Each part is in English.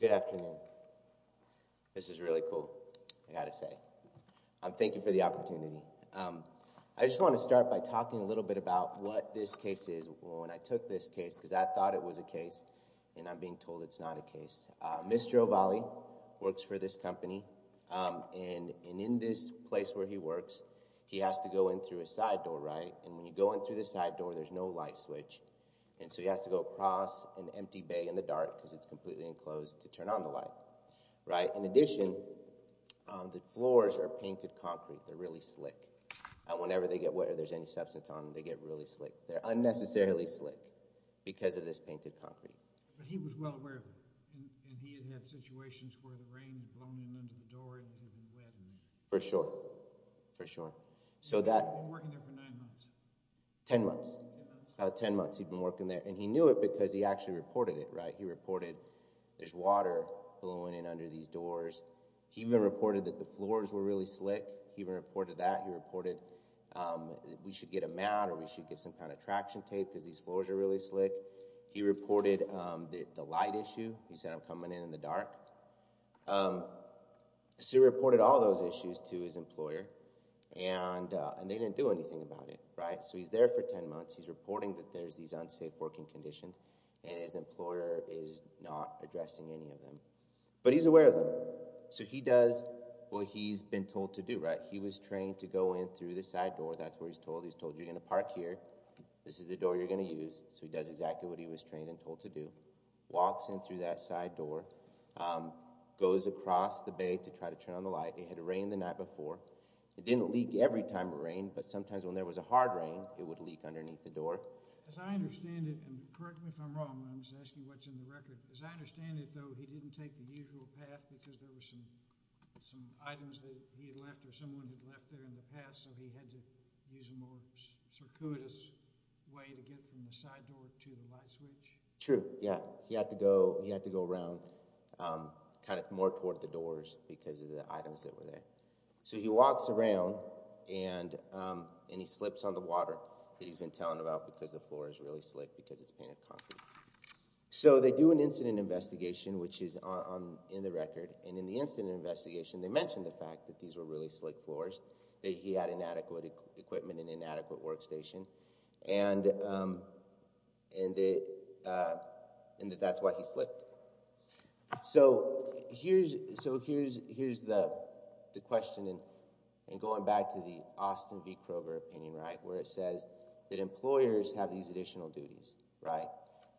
Good afternoon. This is really cool, I got to say. Thank you for the opportunity. I just want to start by talking a little bit about what this case is, when I took this case, because I thought it was a case, and I'm being told it's not a case. Mr. Ovalle works for this company, and in this place where he works, he has to go in through a side door, right? And when you go in through the side door, there's no light switch, and so he has to go across an empty bay in the dark, because it's completely enclosed, to turn on the light, right? In addition, the floors are painted concrete, they're really slick, and whenever they get wet or there's any substance on them, they get really slick. They're unnecessarily slick, because of this painted concrete. But he was well aware of it, and he had had situations where the rain was blowing in under the door, and it had been wet. For sure, for sure. And he knew it, because he actually reported it, right? He reported there's water blowing in under these doors. He even reported that the floors were really slick. He even reported that. He reported we should get a mat, or we should get some kind of traction tape, because these floors are really slick. He reported the light issue. He said, I'm coming in in the dark. So he reported all those issues to his employer, and they didn't do anything about it, right? So he's there for 10 months, he's reporting that there's these unsafe working conditions, and his employer is not addressing any of them. But he's aware of them. So he does what he's been told to do, right? He was trained to go in through the side door, that's where he's told, he's told you're going to park here, this is the door you're going to use. So he does exactly what he was trained and told to do. Walks in through that side door, goes across the bay to try to turn on the light. It had rained the night before. It didn't leak every time it rained, but sometimes there was a hard rain, it would leak underneath the door. As I understand it, and correct me if I'm wrong, I'm just asking what's in the record. As I understand it, though, he didn't take the usual path because there were some items that he had left, or someone had left there in the past, so he had to use a more circuitous way to get from the side door to the light switch? True, yeah. He had to go, he had to go around, kind of more toward the doors because of the slips on the water that he's been telling about because the floor is really slick because it's painted concrete. So they do an incident investigation, which is in the record, and in the incident investigation they mention the fact that these were really slick floors, that he had inadequate equipment and inadequate workstation, and that that's why he slipped. So here's the question, and going back to the Austin v. Kroger opinion, right, where it says that employers have these additional duties, right,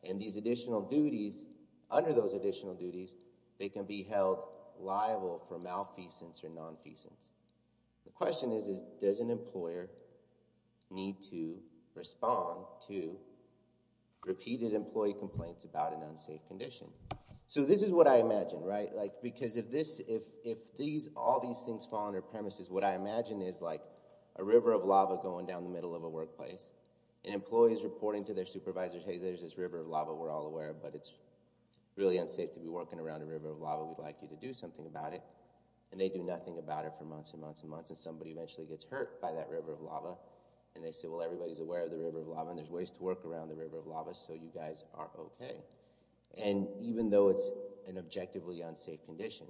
and these additional duties, under those additional duties, they can be held liable for malfeasance or non-feasance. The question is, does an employer need to respond to repeated employee complaints about an unsafe condition? So this is what I imagine, right, like because if this, if these, all these things fall under premises, what I imagine is like a river of lava going down the middle of a workplace, and employees reporting to their supervisors, hey there's this river of lava, we're all aware, but it's really unsafe to be working around a river of lava, we'd like you to do something about it, and they do nothing about it for months and months and months, and somebody eventually gets hurt by that river of lava, and they say well everybody's aware of the river of lava, and there's ways to work around the river of lava, so you guys are okay, and even though it's an objectively unsafe condition,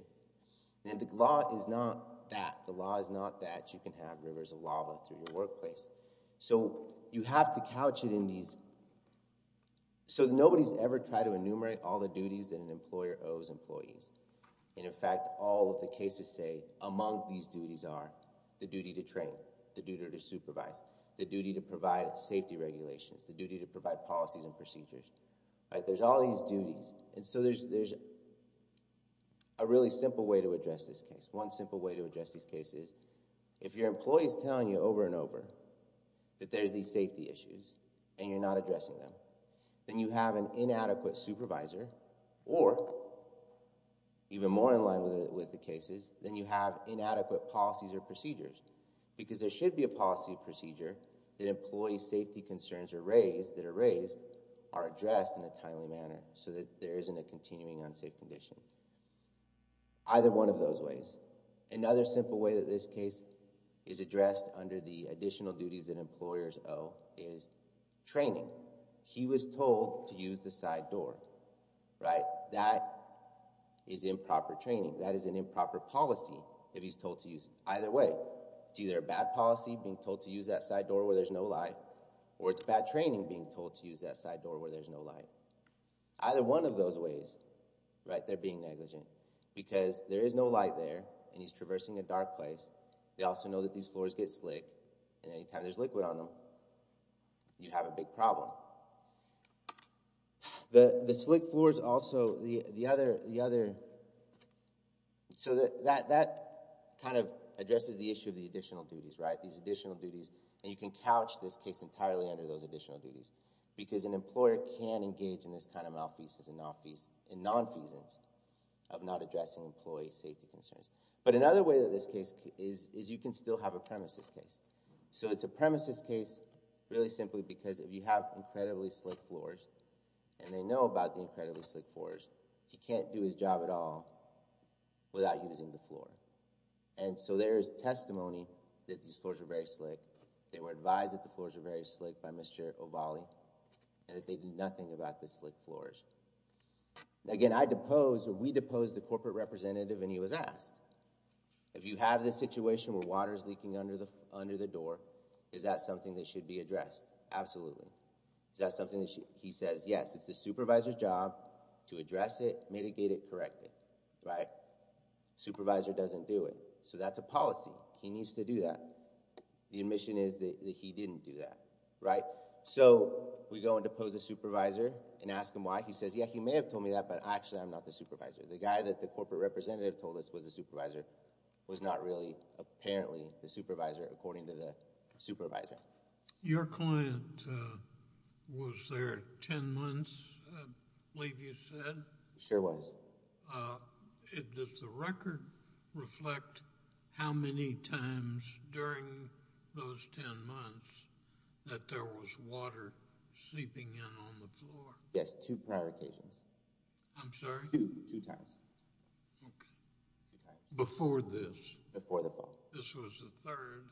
and the law is not that, the law is not that you can have rivers of lava through your workplace. So you have to couch it in these, so nobody's ever tried to enumerate all the duties that an employer owes employees, and in fact all of the cases say among these duties are the duty to train, the duty to supervise, the duty to provide safety regulations, the duty to provide policies and procedures, right, there's all these duties, and so there's, there's a really simple way to address this case. One simple way to address these cases, if your employee is telling you over and over that there's these safety issues, and you're not addressing them, then you have an inadequate supervisor, or even more in line with the cases, then you have inadequate policies or procedures, because there should be a policy or procedure that employees safety concerns are raised, that are raised, are addressed in a timely manner, so that there isn't a continuing unsafe condition. Either one of those ways. Another simple way that this case is addressed under the additional duties that employers owe is training. He was told to use the side door, right, that is improper training, that is an improper policy if he's told to use, either way, it's either a bad policy being told to use that side door where there's no light, or it's bad training being told to use that side door where there's no light. Either one of those ways, right, they're being negligent, because there is no light there, and he's traversing a dark place, they also know that these floors get slick, and anytime there's liquid on them, you have a big problem. The slick floors also, the other, so that kind of addresses the issue of the additional duties, right, these additional duties, and you can couch this case entirely under those additional duties, because an employer can engage in this kind of malfeasance and non-feasance of not addressing employee safety concerns, but another way that this case is, is you can still have a premises case, really simply because if you have incredibly slick floors, and they know about the incredibly slick floors, he can't do his job at all without using the floor, and so there is testimony that these floors are very slick, they were advised that the floors were very slick by Mr. Obali, and that they knew nothing about the slick floors. Again, I deposed, we deposed the corporate representative, and he was asked, if you have this situation where water is leaking under under the door, is that something that should be addressed? Absolutely. Is that something that he says, yes, it's the supervisor's job to address it, mitigate it, correct it, right? Supervisor doesn't do it, so that's a policy. He needs to do that. The admission is that he didn't do that, right? So we go and depose the supervisor and ask him why. He says, yeah, he may have told me that, but actually, I'm not the supervisor. The guy that the corporate representative told us was the supervisor was not really, apparently, the supervisor, according to the supervisor. Your client was there 10 months, I believe you said? Sure was. Does the record reflect how many times during those 10 months that there was water seeping in on the floor? Yes, two prior occasions. I'm sorry? Two times. Okay. Before this? Before the fall. This was the third?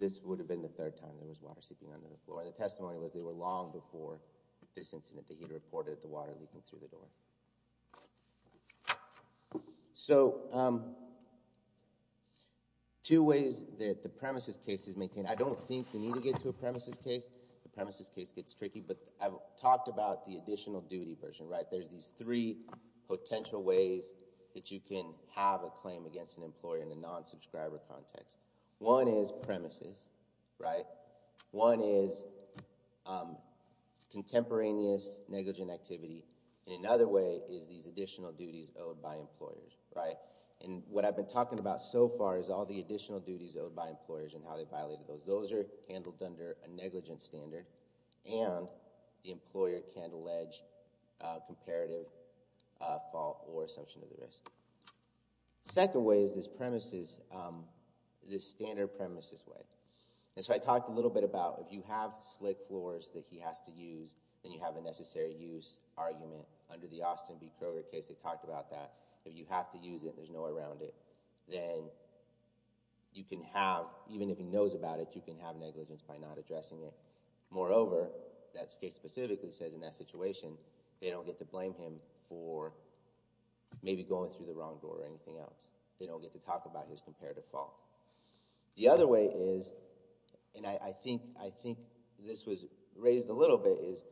This would have been the third time there was water seeping under the floor. The testimony was they were long before this incident that he reported the water leaking through the door. So, two ways that the premises case is maintained. I don't think you need to get to a premises case. The premises case gets tricky, but I've talked about the additional duty version, right? There's these three potential ways that you can have a claim against an employer in a non-subscriber context. One is premises, right? One is contemporaneous negligent activity. Another way is these additional duties owed by employers, right? And what I've been talking about so far is all the additional duties owed by employers and how they violated those. Those are handled under a negligent standard and the employer can allege comparative fault or assumption of the risk. Second way is this premises, this standard premises way. And so I talked a little bit about if you have slick floors that he has to use, then you have a necessary use argument under the Austin B. Kroger case. They talked about that. If you have to use it, there's no around it, then you can have, even if he knows about it, you can have negligence by not addressing it. Moreover, that case specifically says in that situation, they don't get to blame him for maybe going through the wrong door or anything else. They don't get to talk about his comparative fault. The other way is, and I think this was raised a little bit, is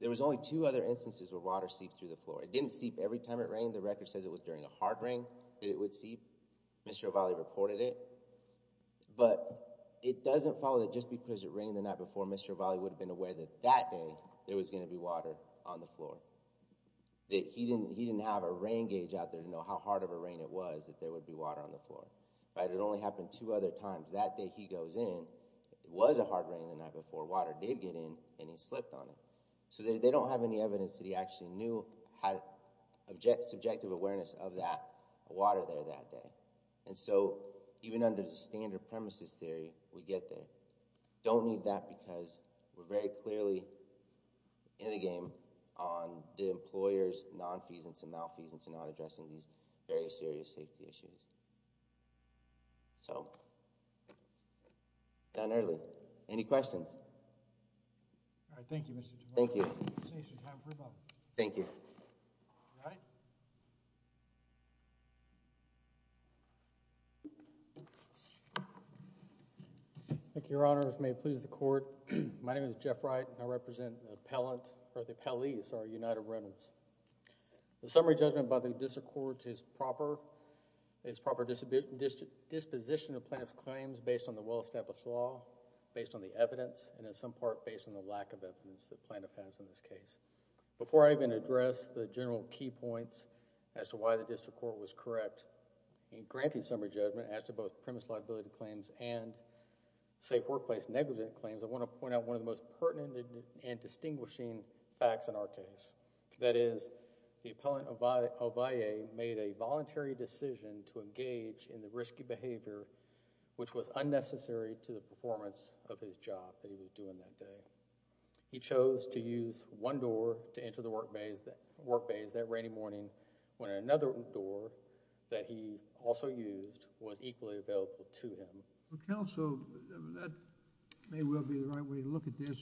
there was only two other instances where water seeped through the floor. It didn't seep every time it rained. The record says it was during a hard rain that it would seep. Mr. O'Valley reported it. But it doesn't follow that just because it rained the night before, Mr. O'Valley would have been aware that that day there was going to be water on the floor. That he didn't have a rain gauge out there to know how hard of a rain it was that there would be water on the floor. It only happened two other times. That day he goes in, it was a hard rain the night before, water did get in and he slipped on it. So they water there that day. And so even under the standard premises theory, we get there. Don't need that because we're very clearly in the game on the employer's non-feasance and malfeasance in not addressing these very serious safety issues. So, done early. Any questions? All right. Thank you, Mr. O'Valley. Thank you. Thank you. Thank you, your honors. May it please the court. My name is Jeff Wright. I represent the appellant or the appellees, sorry, United Remembrance. The summary judgment by the district court is proper. It's proper disposition of plaintiff's claims based on the well-established law, based on the evidence, and in some part based on the lack of evidence that plaintiff has in this case. Before I even address the general key points as to why the district court was correct in granting summary judgment as to both premise liability claims and safe workplace negligent claims, I want to point out one of the most pertinent and distinguishing facts in our case. That is, the appellant O'Valley made a voluntary decision to engage in the risky behavior which was unnecessary to the performance of his job that he was doing that day. He chose to use one door to enter the work bays that work bays that rainy morning when another door that he also used was equally available to him. Well, counsel, that may well be the right way to look at this.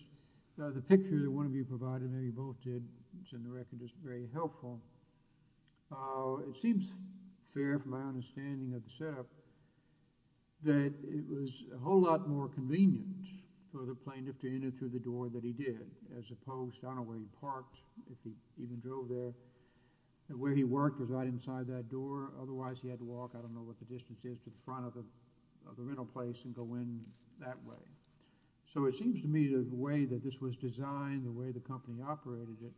The picture that one of you provided, maybe both did, is in the record just very helpful. It seems fair from my understanding of the setup that it was a whole lot more convenient for the plaintiff to enter through the door that he did as opposed, I don't know where he parked, if he even drove there, and where he worked was right inside that door. Otherwise he had to walk, I don't know what the distance is, to the front of the of the rental place and go in that way. So it seems to me the way that this was designed, the way the company operated it,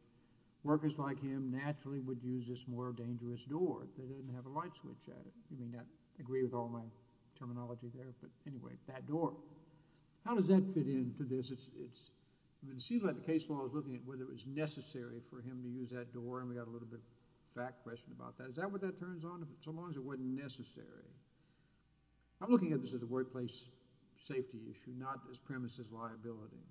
naturally would use this more dangerous door. They didn't have a light switch at it. You may not agree with all my terminology there, but anyway, that door. How does that fit into this? It seems like the case law is looking at whether it's necessary for him to use that door and we got a little bit of a fact question about that. Is that what that turns on? So long as it wasn't necessary. I'm looking at this as a workplace safety issue, not as premises liability.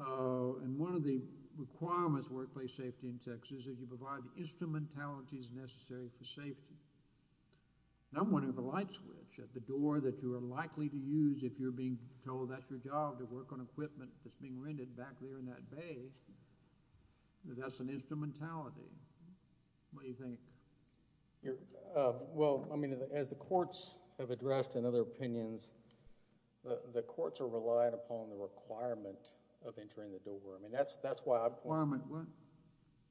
And one of the requirements of workplace safety in Texas is you provide the instrumentalities necessary for safety. Now whenever the light switch at the door that you are likely to use, if you're being told that's your job to work on equipment that's being rented back there in that bay, that's an instrumentality. What do you think? Well, I mean, as the courts have addressed in other opinions, the courts are relying upon the requirement of entering the door. I mean, that's why I'm. Requirement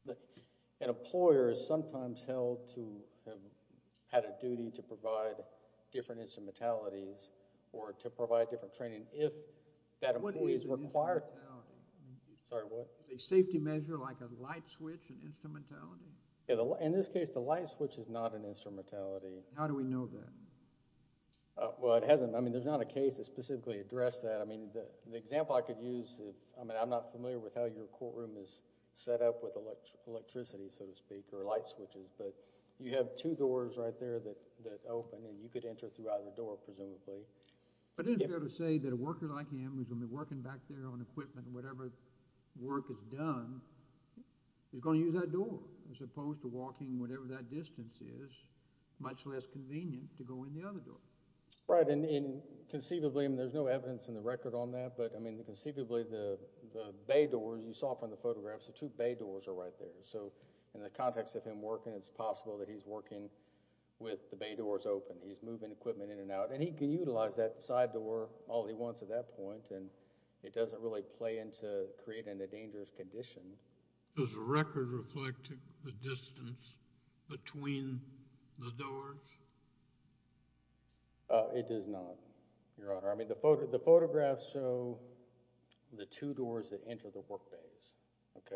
what? An employer is sometimes held to have had a duty to provide different instrumentalities or to provide different training if that employee is required. What is an instrumentality? Sorry, what? A safety measure like a light switch, an instrumentality? In this case, the light switch is not an instrumentality. How do we know that? Well, it hasn't. I mean, there's not a case to specifically address that. I mean, the example I could use it. I mean, I'm not familiar with how your courtroom is set up with electrical electricity, so to speak, or light switches. But you have two doors right there that that open and you could enter through either door, presumably. But it's fair to say that a worker like him is going to be working back there on equipment. Whatever work is done, he's going to use that door as opposed to walking whatever that distance is much less convenient to go in the other door. Right. And conceivably, there's no evidence in the record on that. But I mean, conceivably, the bay doors you saw from the photographs, the two bay doors are right there. So in the context of him working, it's possible that he's working with the bay doors open. He's moving equipment in and out and he can utilize that side door all he wants at that point. And it doesn't really play into creating a dangerous condition. Does the record reflect the distance between the doors? It does not, Your Honor. I mean, the photographs show the two doors that enter the work base. OK.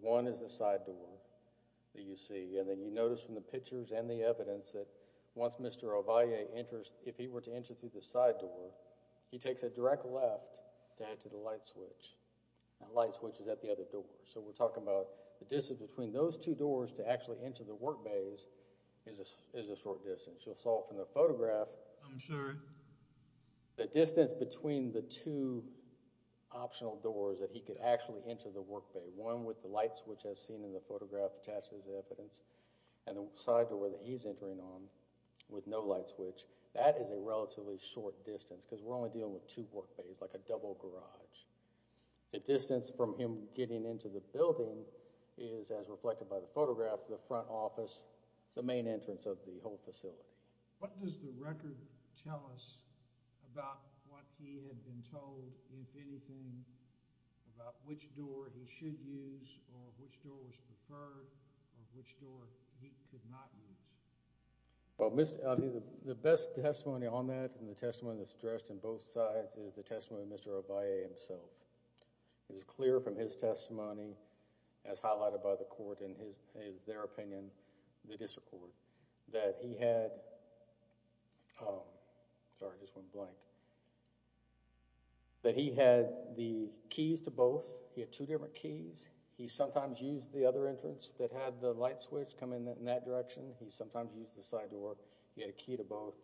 One is the side door that you see. And then you notice from the pictures and the evidence that once Mr. Ovalle enters, if he were to enter through the side door, he takes a direct left to enter the light switch. The light switch is at the other door. So we're talking about the distance between those two doors to actually enter the work base is a short distance. You'll saw from the photograph, I'm sure, the distance between the two optional doors that he could actually enter the work bay, one with the light switch as seen in the photograph attached to his evidence and the side door that he's entering on with no light switch. That is a relatively short distance because we're only dealing with two work garage. The distance from him getting into the building is, as reflected by the photograph, the front office, the main entrance of the whole facility. What does the record tell us about what he had been told, if anything, about which door he should use or which door was preferred or which door he could not use? The best testimony on that and the testimony that's clear from his testimony as highlighted by the court in their opinion, the district court, that he had the keys to both. He had two different keys. He sometimes used the other entrance that had the light switch come in that direction. He sometimes used the side door. He had a key to both.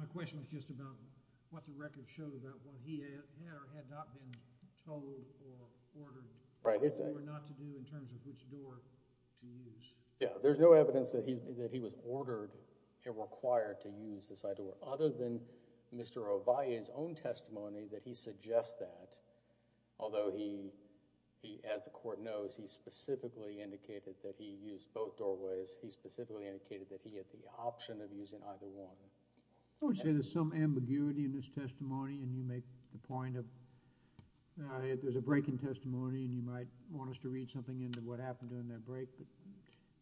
My question was just about what the record showed about what he had or had not been told or ordered or not to do in terms of which door to use. There's no evidence that he was ordered and required to use the side door other than Mr. Ovalle's own testimony that he suggests that, although he, as the court knows, he specifically indicated that he used both doorways. He specifically indicated that he had the option of using either one. I would say there's some ambiguity in his testimony and you make the point of, there's a breaking testimony and you might want us to read something into what happened during that break, but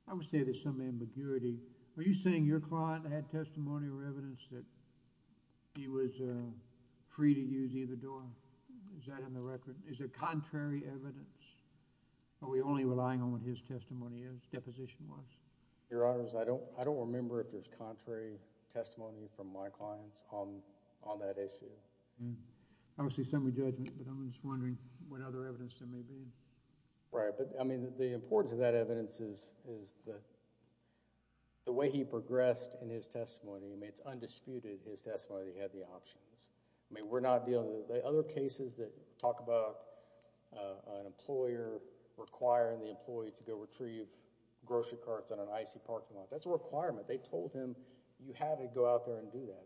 I would say there's some ambiguity. Are you saying your client had testimony or evidence that he was free to use either door? Is that in the record? Is there contrary evidence? Are we only relying on what his testimony is, deposition was? Your Honor, I don't remember if there's contrary testimony from my clients on that issue. Obviously, it's something of a judgment, but I'm just wondering what other evidence there may be. Right, but I mean the importance of that evidence is the way he progressed in his testimony. I mean, it's undisputed his testimony had the options. I mean, we're not dealing with the other cases that talk about an employer requiring the employee to go retrieve grocery carts in an icy parking lot. That's a requirement. They told him you had to go out there and do that.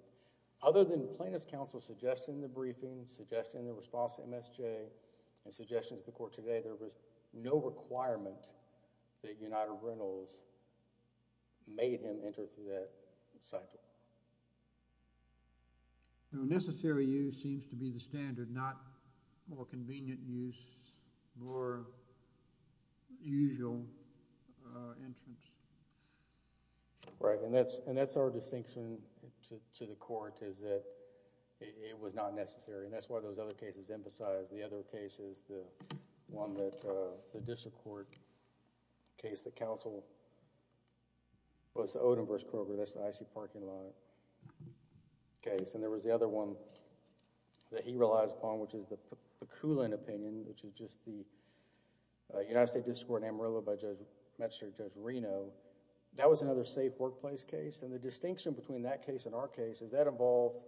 Other than plaintiff's counsel's suggestion in the briefing, suggestion in the response to MSJ, and suggestions to the court today, there was no requirement that United States be required to use that cycle. Necessary use seems to be the standard, not more convenient use, more usual entrance. Right, and that's our distinction to the court is that it was not necessary, and that's why those other cases emphasize the other cases. The one that the IC parking lot case, and there was the other one that he relies upon, which is the Pucullin opinion, which is just the United States District Court in Amarillo by Judge, Magistrate Judge Reno. That was another safe workplace case, and the distinction between that case and our case is that involved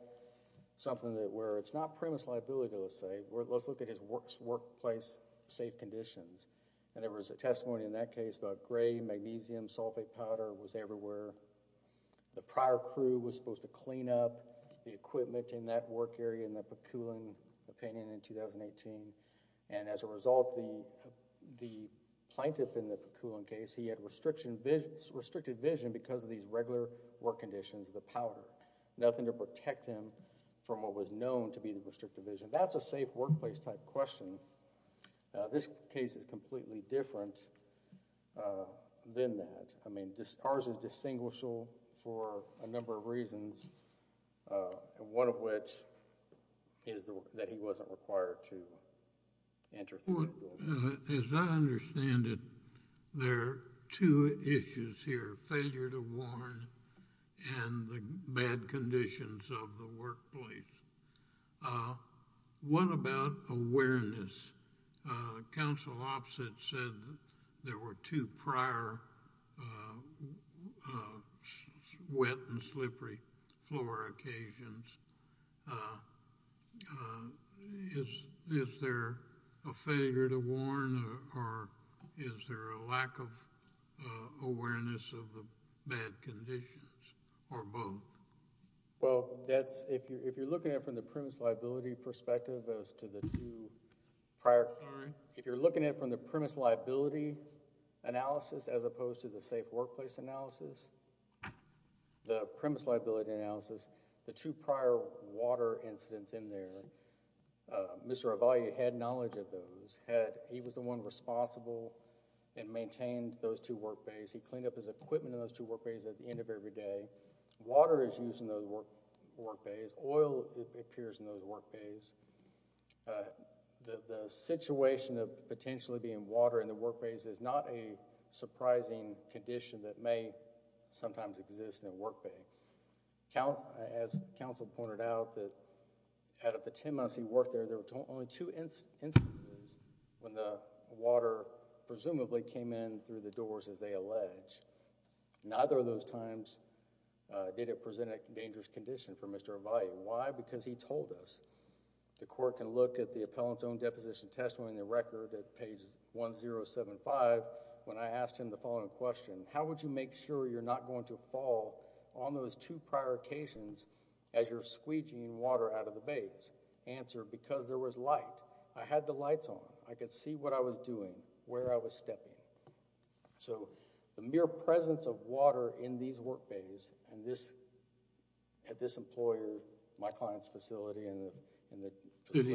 something that where it's not premise liability, let's say. Let's look at his workplace safe conditions, and there was a testimony in that case about gray magnesium sulfate powder was everywhere. The prior crew was supposed to clean up the equipment in that work area in the Pucullin opinion in 2018, and as a result, the plaintiff in the Pucullin case, he had restricted vision because of these regular work conditions of the powder. Nothing to protect him from what was known to be the restricted vision. That's a safe workplace type question. This case is completely different than that. I mean, ours is distinguishable for a number of reasons, one of which is that he wasn't required to enter. As I understand it, there are two issues here, failure to warn and the bad conditions of the workplace. What about awareness? Council opposite said there were two prior wet and slippery floor occasions. Is there a failure to warn or is there a lack of awareness of the bad conditions or both? Well, if you're looking at it from the premise liability perspective as to the two prior, if you're looking at it from the premise liability analysis as opposed to the safe workplace analysis, the premise liability analysis, the two prior water incidents in there, Mr. Revalia had knowledge of those. He was the one responsible and maintained those two work areas at the end of every day. Water is used in those work bays. Oil appears in those work bays. The situation of potentially being water in the work bays is not a surprising condition that may sometimes exist in a work bay. As Council pointed out, out of the 10 months he worked there, there were only two instances when the water presumably came in through the doors as they Can you imagine if the same incident occurred at the adapter to the side of the surge and there's an eroding ledge, neither of those times did it present a dangerous condition for Mr. Revalia. Why? Because he told us, the Court can look at the appellant's own deposition the mere presence of water in these work bays at this employer, my client's facility. Did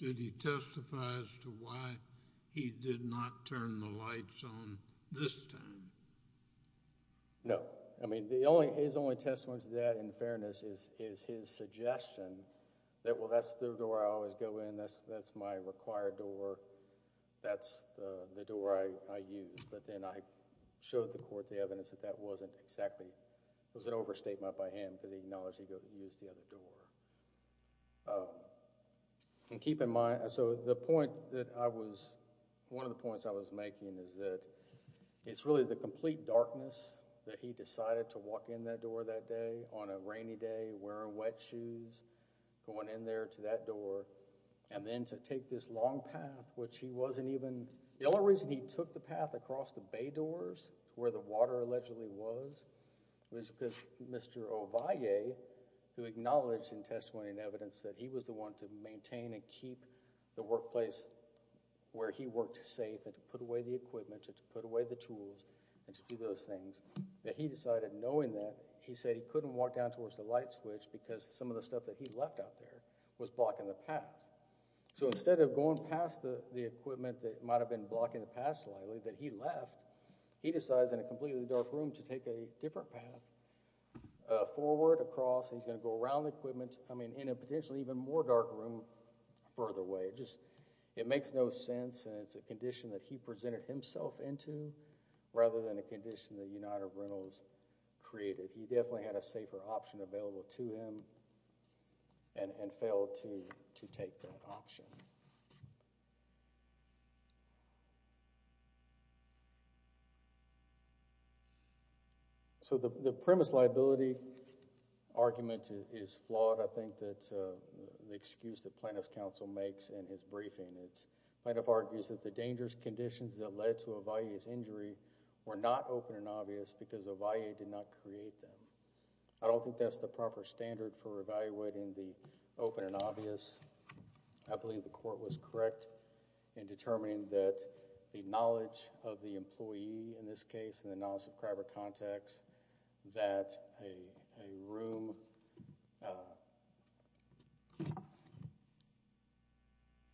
he testify as to why he did not turn the lights on this time? No. His only testimony to that, in fairness, is his suggestion that, well, that's the door I used, but then I showed the Court the evidence that that wasn't exactly, it was an overstatement by him because he acknowledged he used the other door. And keep in mind, so the point that I was, one of the points I was making is that it's really the complete darkness that he decided to walk in that door that day on a rainy day, wearing wet shoes, going in there to that door, and then to take this long path which he wasn't even, the only reason he took the path across the bay doors, where the water allegedly was, was because Mr. Ovalle, who acknowledged in testimony and evidence that he was the one to maintain and keep the workplace where he worked safe and to put away the equipment and to put away the tools and to do those things, that he decided, knowing that, he said he couldn't walk down towards the light switch because some of the stuff that he left out there was blocking the path. So instead of going past the equipment that might have been blocking the path slightly that he left, he decides in a completely dark room to take a different path, forward, across, he's going to go around the equipment, I mean in a potentially even more dark room, further away. It just, it makes no sense and it's a condition that he presented himself into rather than a condition that United Rentals created. He definitely had a safer option available to him and failed to take that option. So the premise liability argument is flawed. I think that the excuse that Plaintiff's counsel makes in his briefing, it's, Plaintiff argues that the dangerous conditions that led to Ovalle's injury were not open and obvious because Ovalle did not create them. I don't think that's the proper standard for evaluating the open and obvious. I believe the court was correct in determining that the knowledge of the employee, in this case, in the non-subscriber context, that a room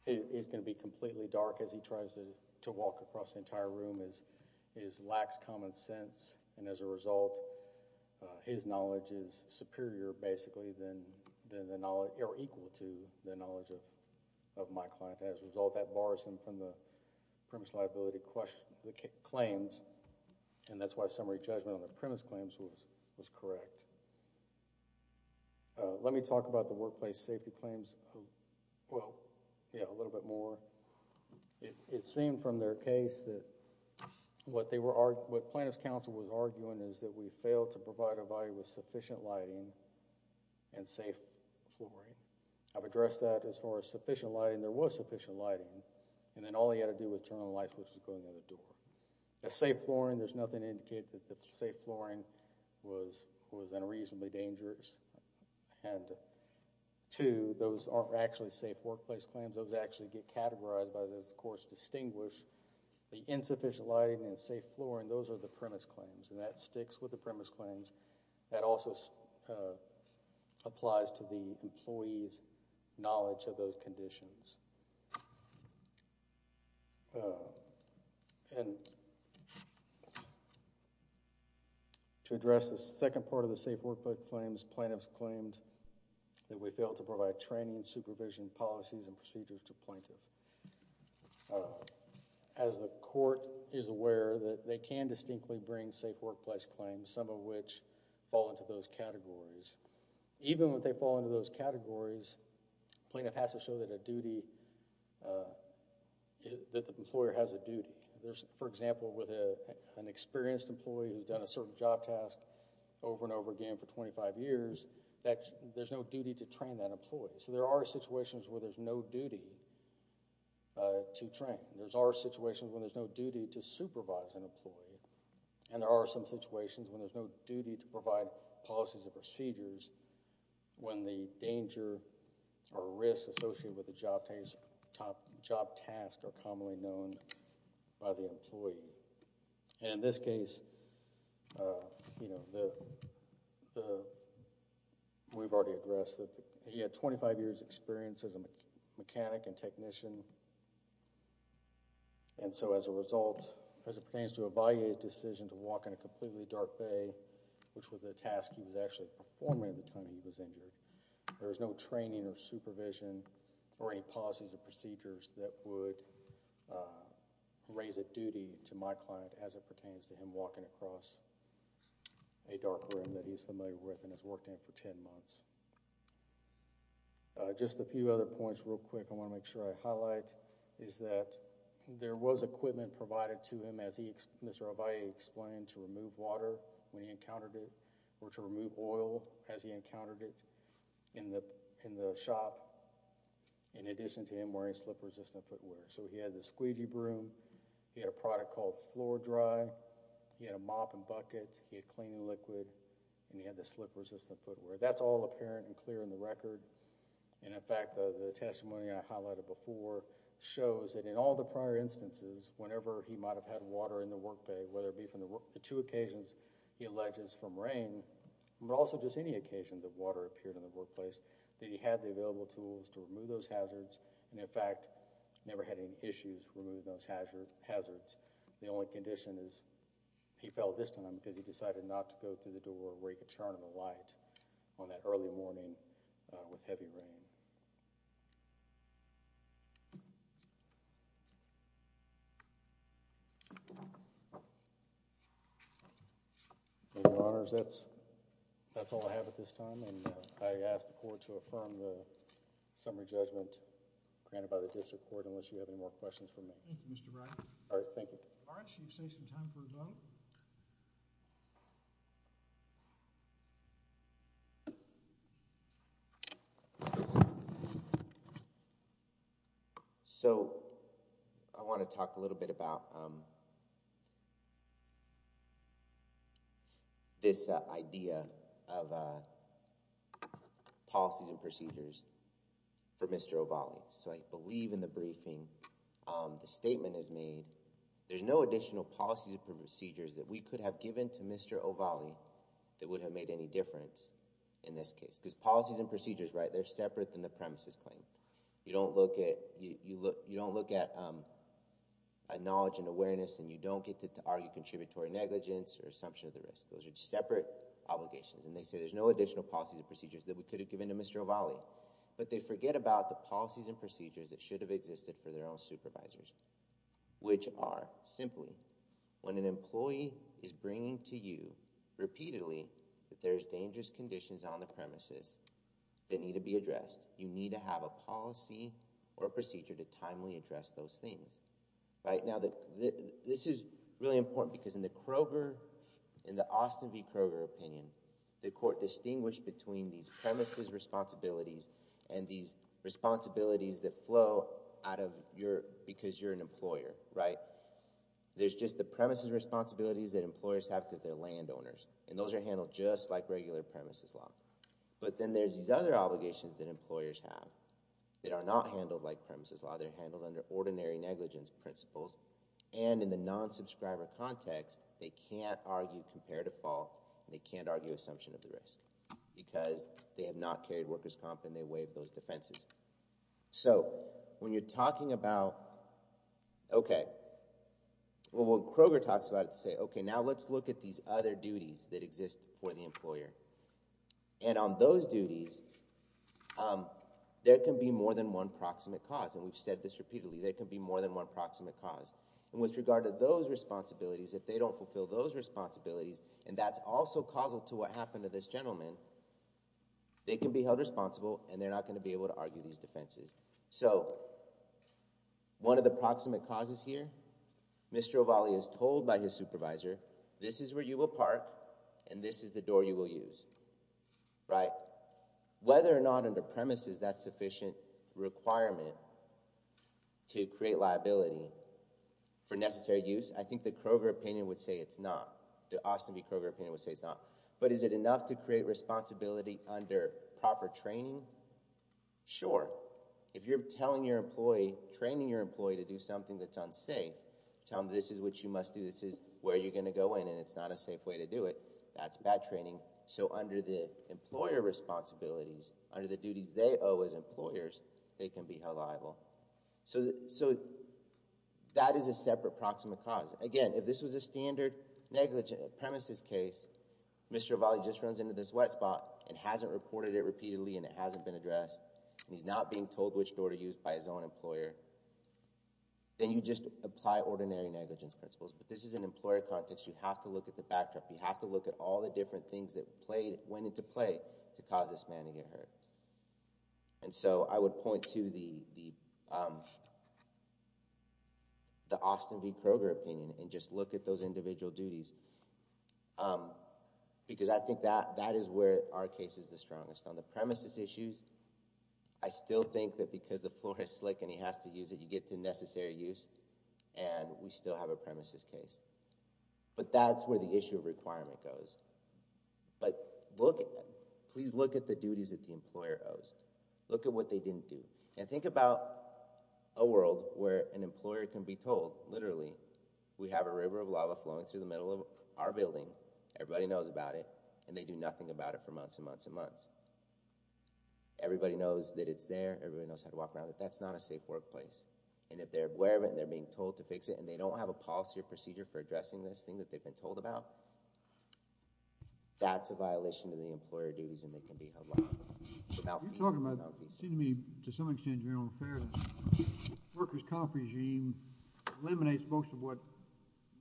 is going to be completely dark as he tries to walk across the entire room is lax common sense and as a result, his knowledge is superior basically than the knowledge or equal to the knowledge of my client. As a result, that bars him from the premise liability claims and that's why summary judgment on the premise claims was correct. Let me talk about the workplace safety claims a little bit more. It seemed from their case that what they were arguing, what Plaintiff's counsel was arguing is that we failed to provide Ovalle with sufficient lighting and safe flooring. I've addressed that as far as sufficient lighting. There was sufficient lighting and then all he had to do was turn on the lights which was going to the door. The safe flooring, there's nothing to indicate that the safe flooring was was unreasonably dangerous and two, those aren't actually safe workplace claims. Those actually get categorized by this, of course, distinguish the insufficient lighting and safe flooring. Those are the premise claims and that sticks with the premise claims. That also applies to the employee's knowledge of those conditions. And to address the second part of the safe workplace claims, Plaintiff's claimed that we failed to provide training, supervision, policies and procedures to plaintiffs. As the court is aware that they can distinctly bring safe workplace claims, some of which fall into those categories. Even when they fall into those categories, Plaintiff has to show that a duty, that the employer has a duty. There's, for example, with an experienced employee who's served a job task over and over again for 25 years that there's no duty to train that employee. So there are situations where there's no duty to train. There are situations when there's no duty to supervise an employee and there are some situations when there's no duty to provide policies and procedures when the danger or risks associated with the job task are commonly known by the employee. And in this case, you know, we've already addressed that he had 25 years experience as a mechanic and technician and so as a result, as it pertains to evaluate his decision to walk in a completely dark bay, which was a task he was actually performing every time he was injured, there was no training or supervision or any policies or procedures that would raise a duty to my client as it pertains to him walking across a dark room that he's familiar with and has worked in for 10 months. Just a few other points real quick I want to make sure I highlight is that there was equipment provided to him as he, Mr. Abayi explained, to remove water when he encountered it or to remove oil as he encountered it in the shop in addition to him wearing slippers just to footwear. So he had the squeegee broom, he had a product called Floor Dry, he had a mop and bucket, he had cleaning liquid and he had the slip resistant footwear. That's all apparent and clear in the record and in fact, the testimony I highlighted before shows that in all the prior instances, whenever he might have had water in the work bay, whether it be from the two occasions he alleges from rain but also just any occasion that water appeared in the workplace, that he had the available tools to remove those hazards. The only condition is he fell this time because he decided not to go through the door where he could turn on the light on that early morning with heavy rain. Your Honors, that's all I have at this time and I ask the court to affirm the summary judgment granted by the district court unless you have any more questions from me. So I want to talk a little bit about this idea of policies and procedures for Mr. Ovalle. So I believe in the briefing, the statement is made, there's no additional policies and procedures that we could have given to Mr. Ovalle that would have made any difference in this case because policies and procedures, right, they're separate than the premises claim. You don't look at by knowledge and awareness and you don't get to argue contributory negligence or assumption of the risk. Those are separate obligations and they say there's no additional policies and procedures that we could have given to Mr. Ovalle but they forget about the policies and procedures that should have existed for their own supervisors which are simply when an employee is bringing to you repeatedly that there's dangerous conditions on the premises that need to be addressed. Now this is really important because in the Austin v. Kroger opinion, the court distinguished between these premises responsibilities and these responsibilities that flow out of your, because you're an employer, right. There's just the premises responsibilities that employers have because they're landowners and those are handled just like regular premises law. But then there's these other obligations that employers have that are not handled like contributory negligence principles and in the non-subscriber context, they can't argue comparative fault, they can't argue assumption of the risk because they have not carried workers comp and they waived those defenses. So when you're talking about, okay, well when Kroger talks about it, say okay now let's look at these other duties that exist for the employer and on those duties, there can be more than one proximate cause and we've said this repeatedly, there can be more than one proximate cause and with regard to those responsibilities, if they don't fulfill those responsibilities and that's also causal to what happened to this gentleman, they can be held responsible and they're not going to be able to argue these defenses. So one of the proximate causes here, Mr. Ovalle is told by his supervisor, this is where you will park and this is the door you will use, right. Whether or not under requirement to create liability for necessary use, I think the Kroger opinion would say it's not, the Austin v. Kroger opinion would say it's not, but is it enough to create responsibility under proper training? Sure. If you're telling your employee, training your employee to do something that's unsafe, telling them this is what you must do, this is where you're going to go in and it's not a safe way to do it, that's bad training. So under the employer responsibilities, under the employer's, they can be held liable. So that is a separate proximate cause. Again, if this was a standard negligence premises case, Mr. Ovalle just runs into this wet spot and hasn't reported it repeatedly and it hasn't been addressed and he's not being told which door to use by his own employer, then you just apply ordinary negligence principles. But this is an employer context, you have to look at the backdrop, you have to look at all the different things that played, went into play to cause this man to get hurt. And so I would point to the Austin v. Kroger opinion and just look at those individual duties because I think that that is where our case is the strongest. On the premises issues, I still think that because the floor is slick and he has to use it, you get to necessary use and we still have a premises case. But that's where the issue of requirement goes. But look at them, please look at the duties that the employer owes, look at what they didn't do. And think about a world where an employer can be told, literally, we have a river of lava flowing through the middle of our building, everybody knows about it and they do nothing about it for months and months and months. Everybody knows that it's there, everybody knows how to walk around it, that's not a safe workplace. And if they're aware of it and they're being told to fix it and they don't have a policy or procedure for addressing this thing that they've been told about, that's a violation of the employer duties and they can be held liable for malfeasance. You're talking about, to some extent, general fairness. The workers' comp regime eliminates most of what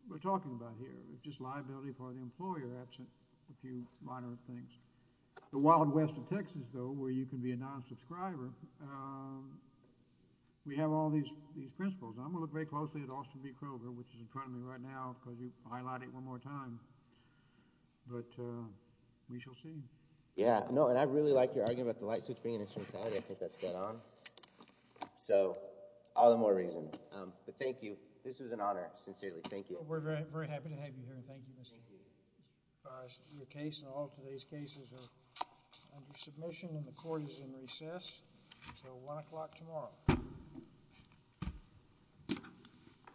we're talking about here. It's just liability for the employer absent a few minor things. The wild west of Texas, though, where you can be a non-subscriber, we have all these principles. I'm going to look very closely at Austin v. Kroger, which is in front of me right now, because you highlighted it one more time, but we shall see. Yeah. No, and I really like your argument about the light switch being an instrumentality. I think that's dead on. So, all the more reason. But thank you. This was an honor. Sincerely, thank you. We're very happy to have you here, and thank you, Mr. Your case and all of today's cases are under submission and the court is in recess until 1 o'clock tomorrow.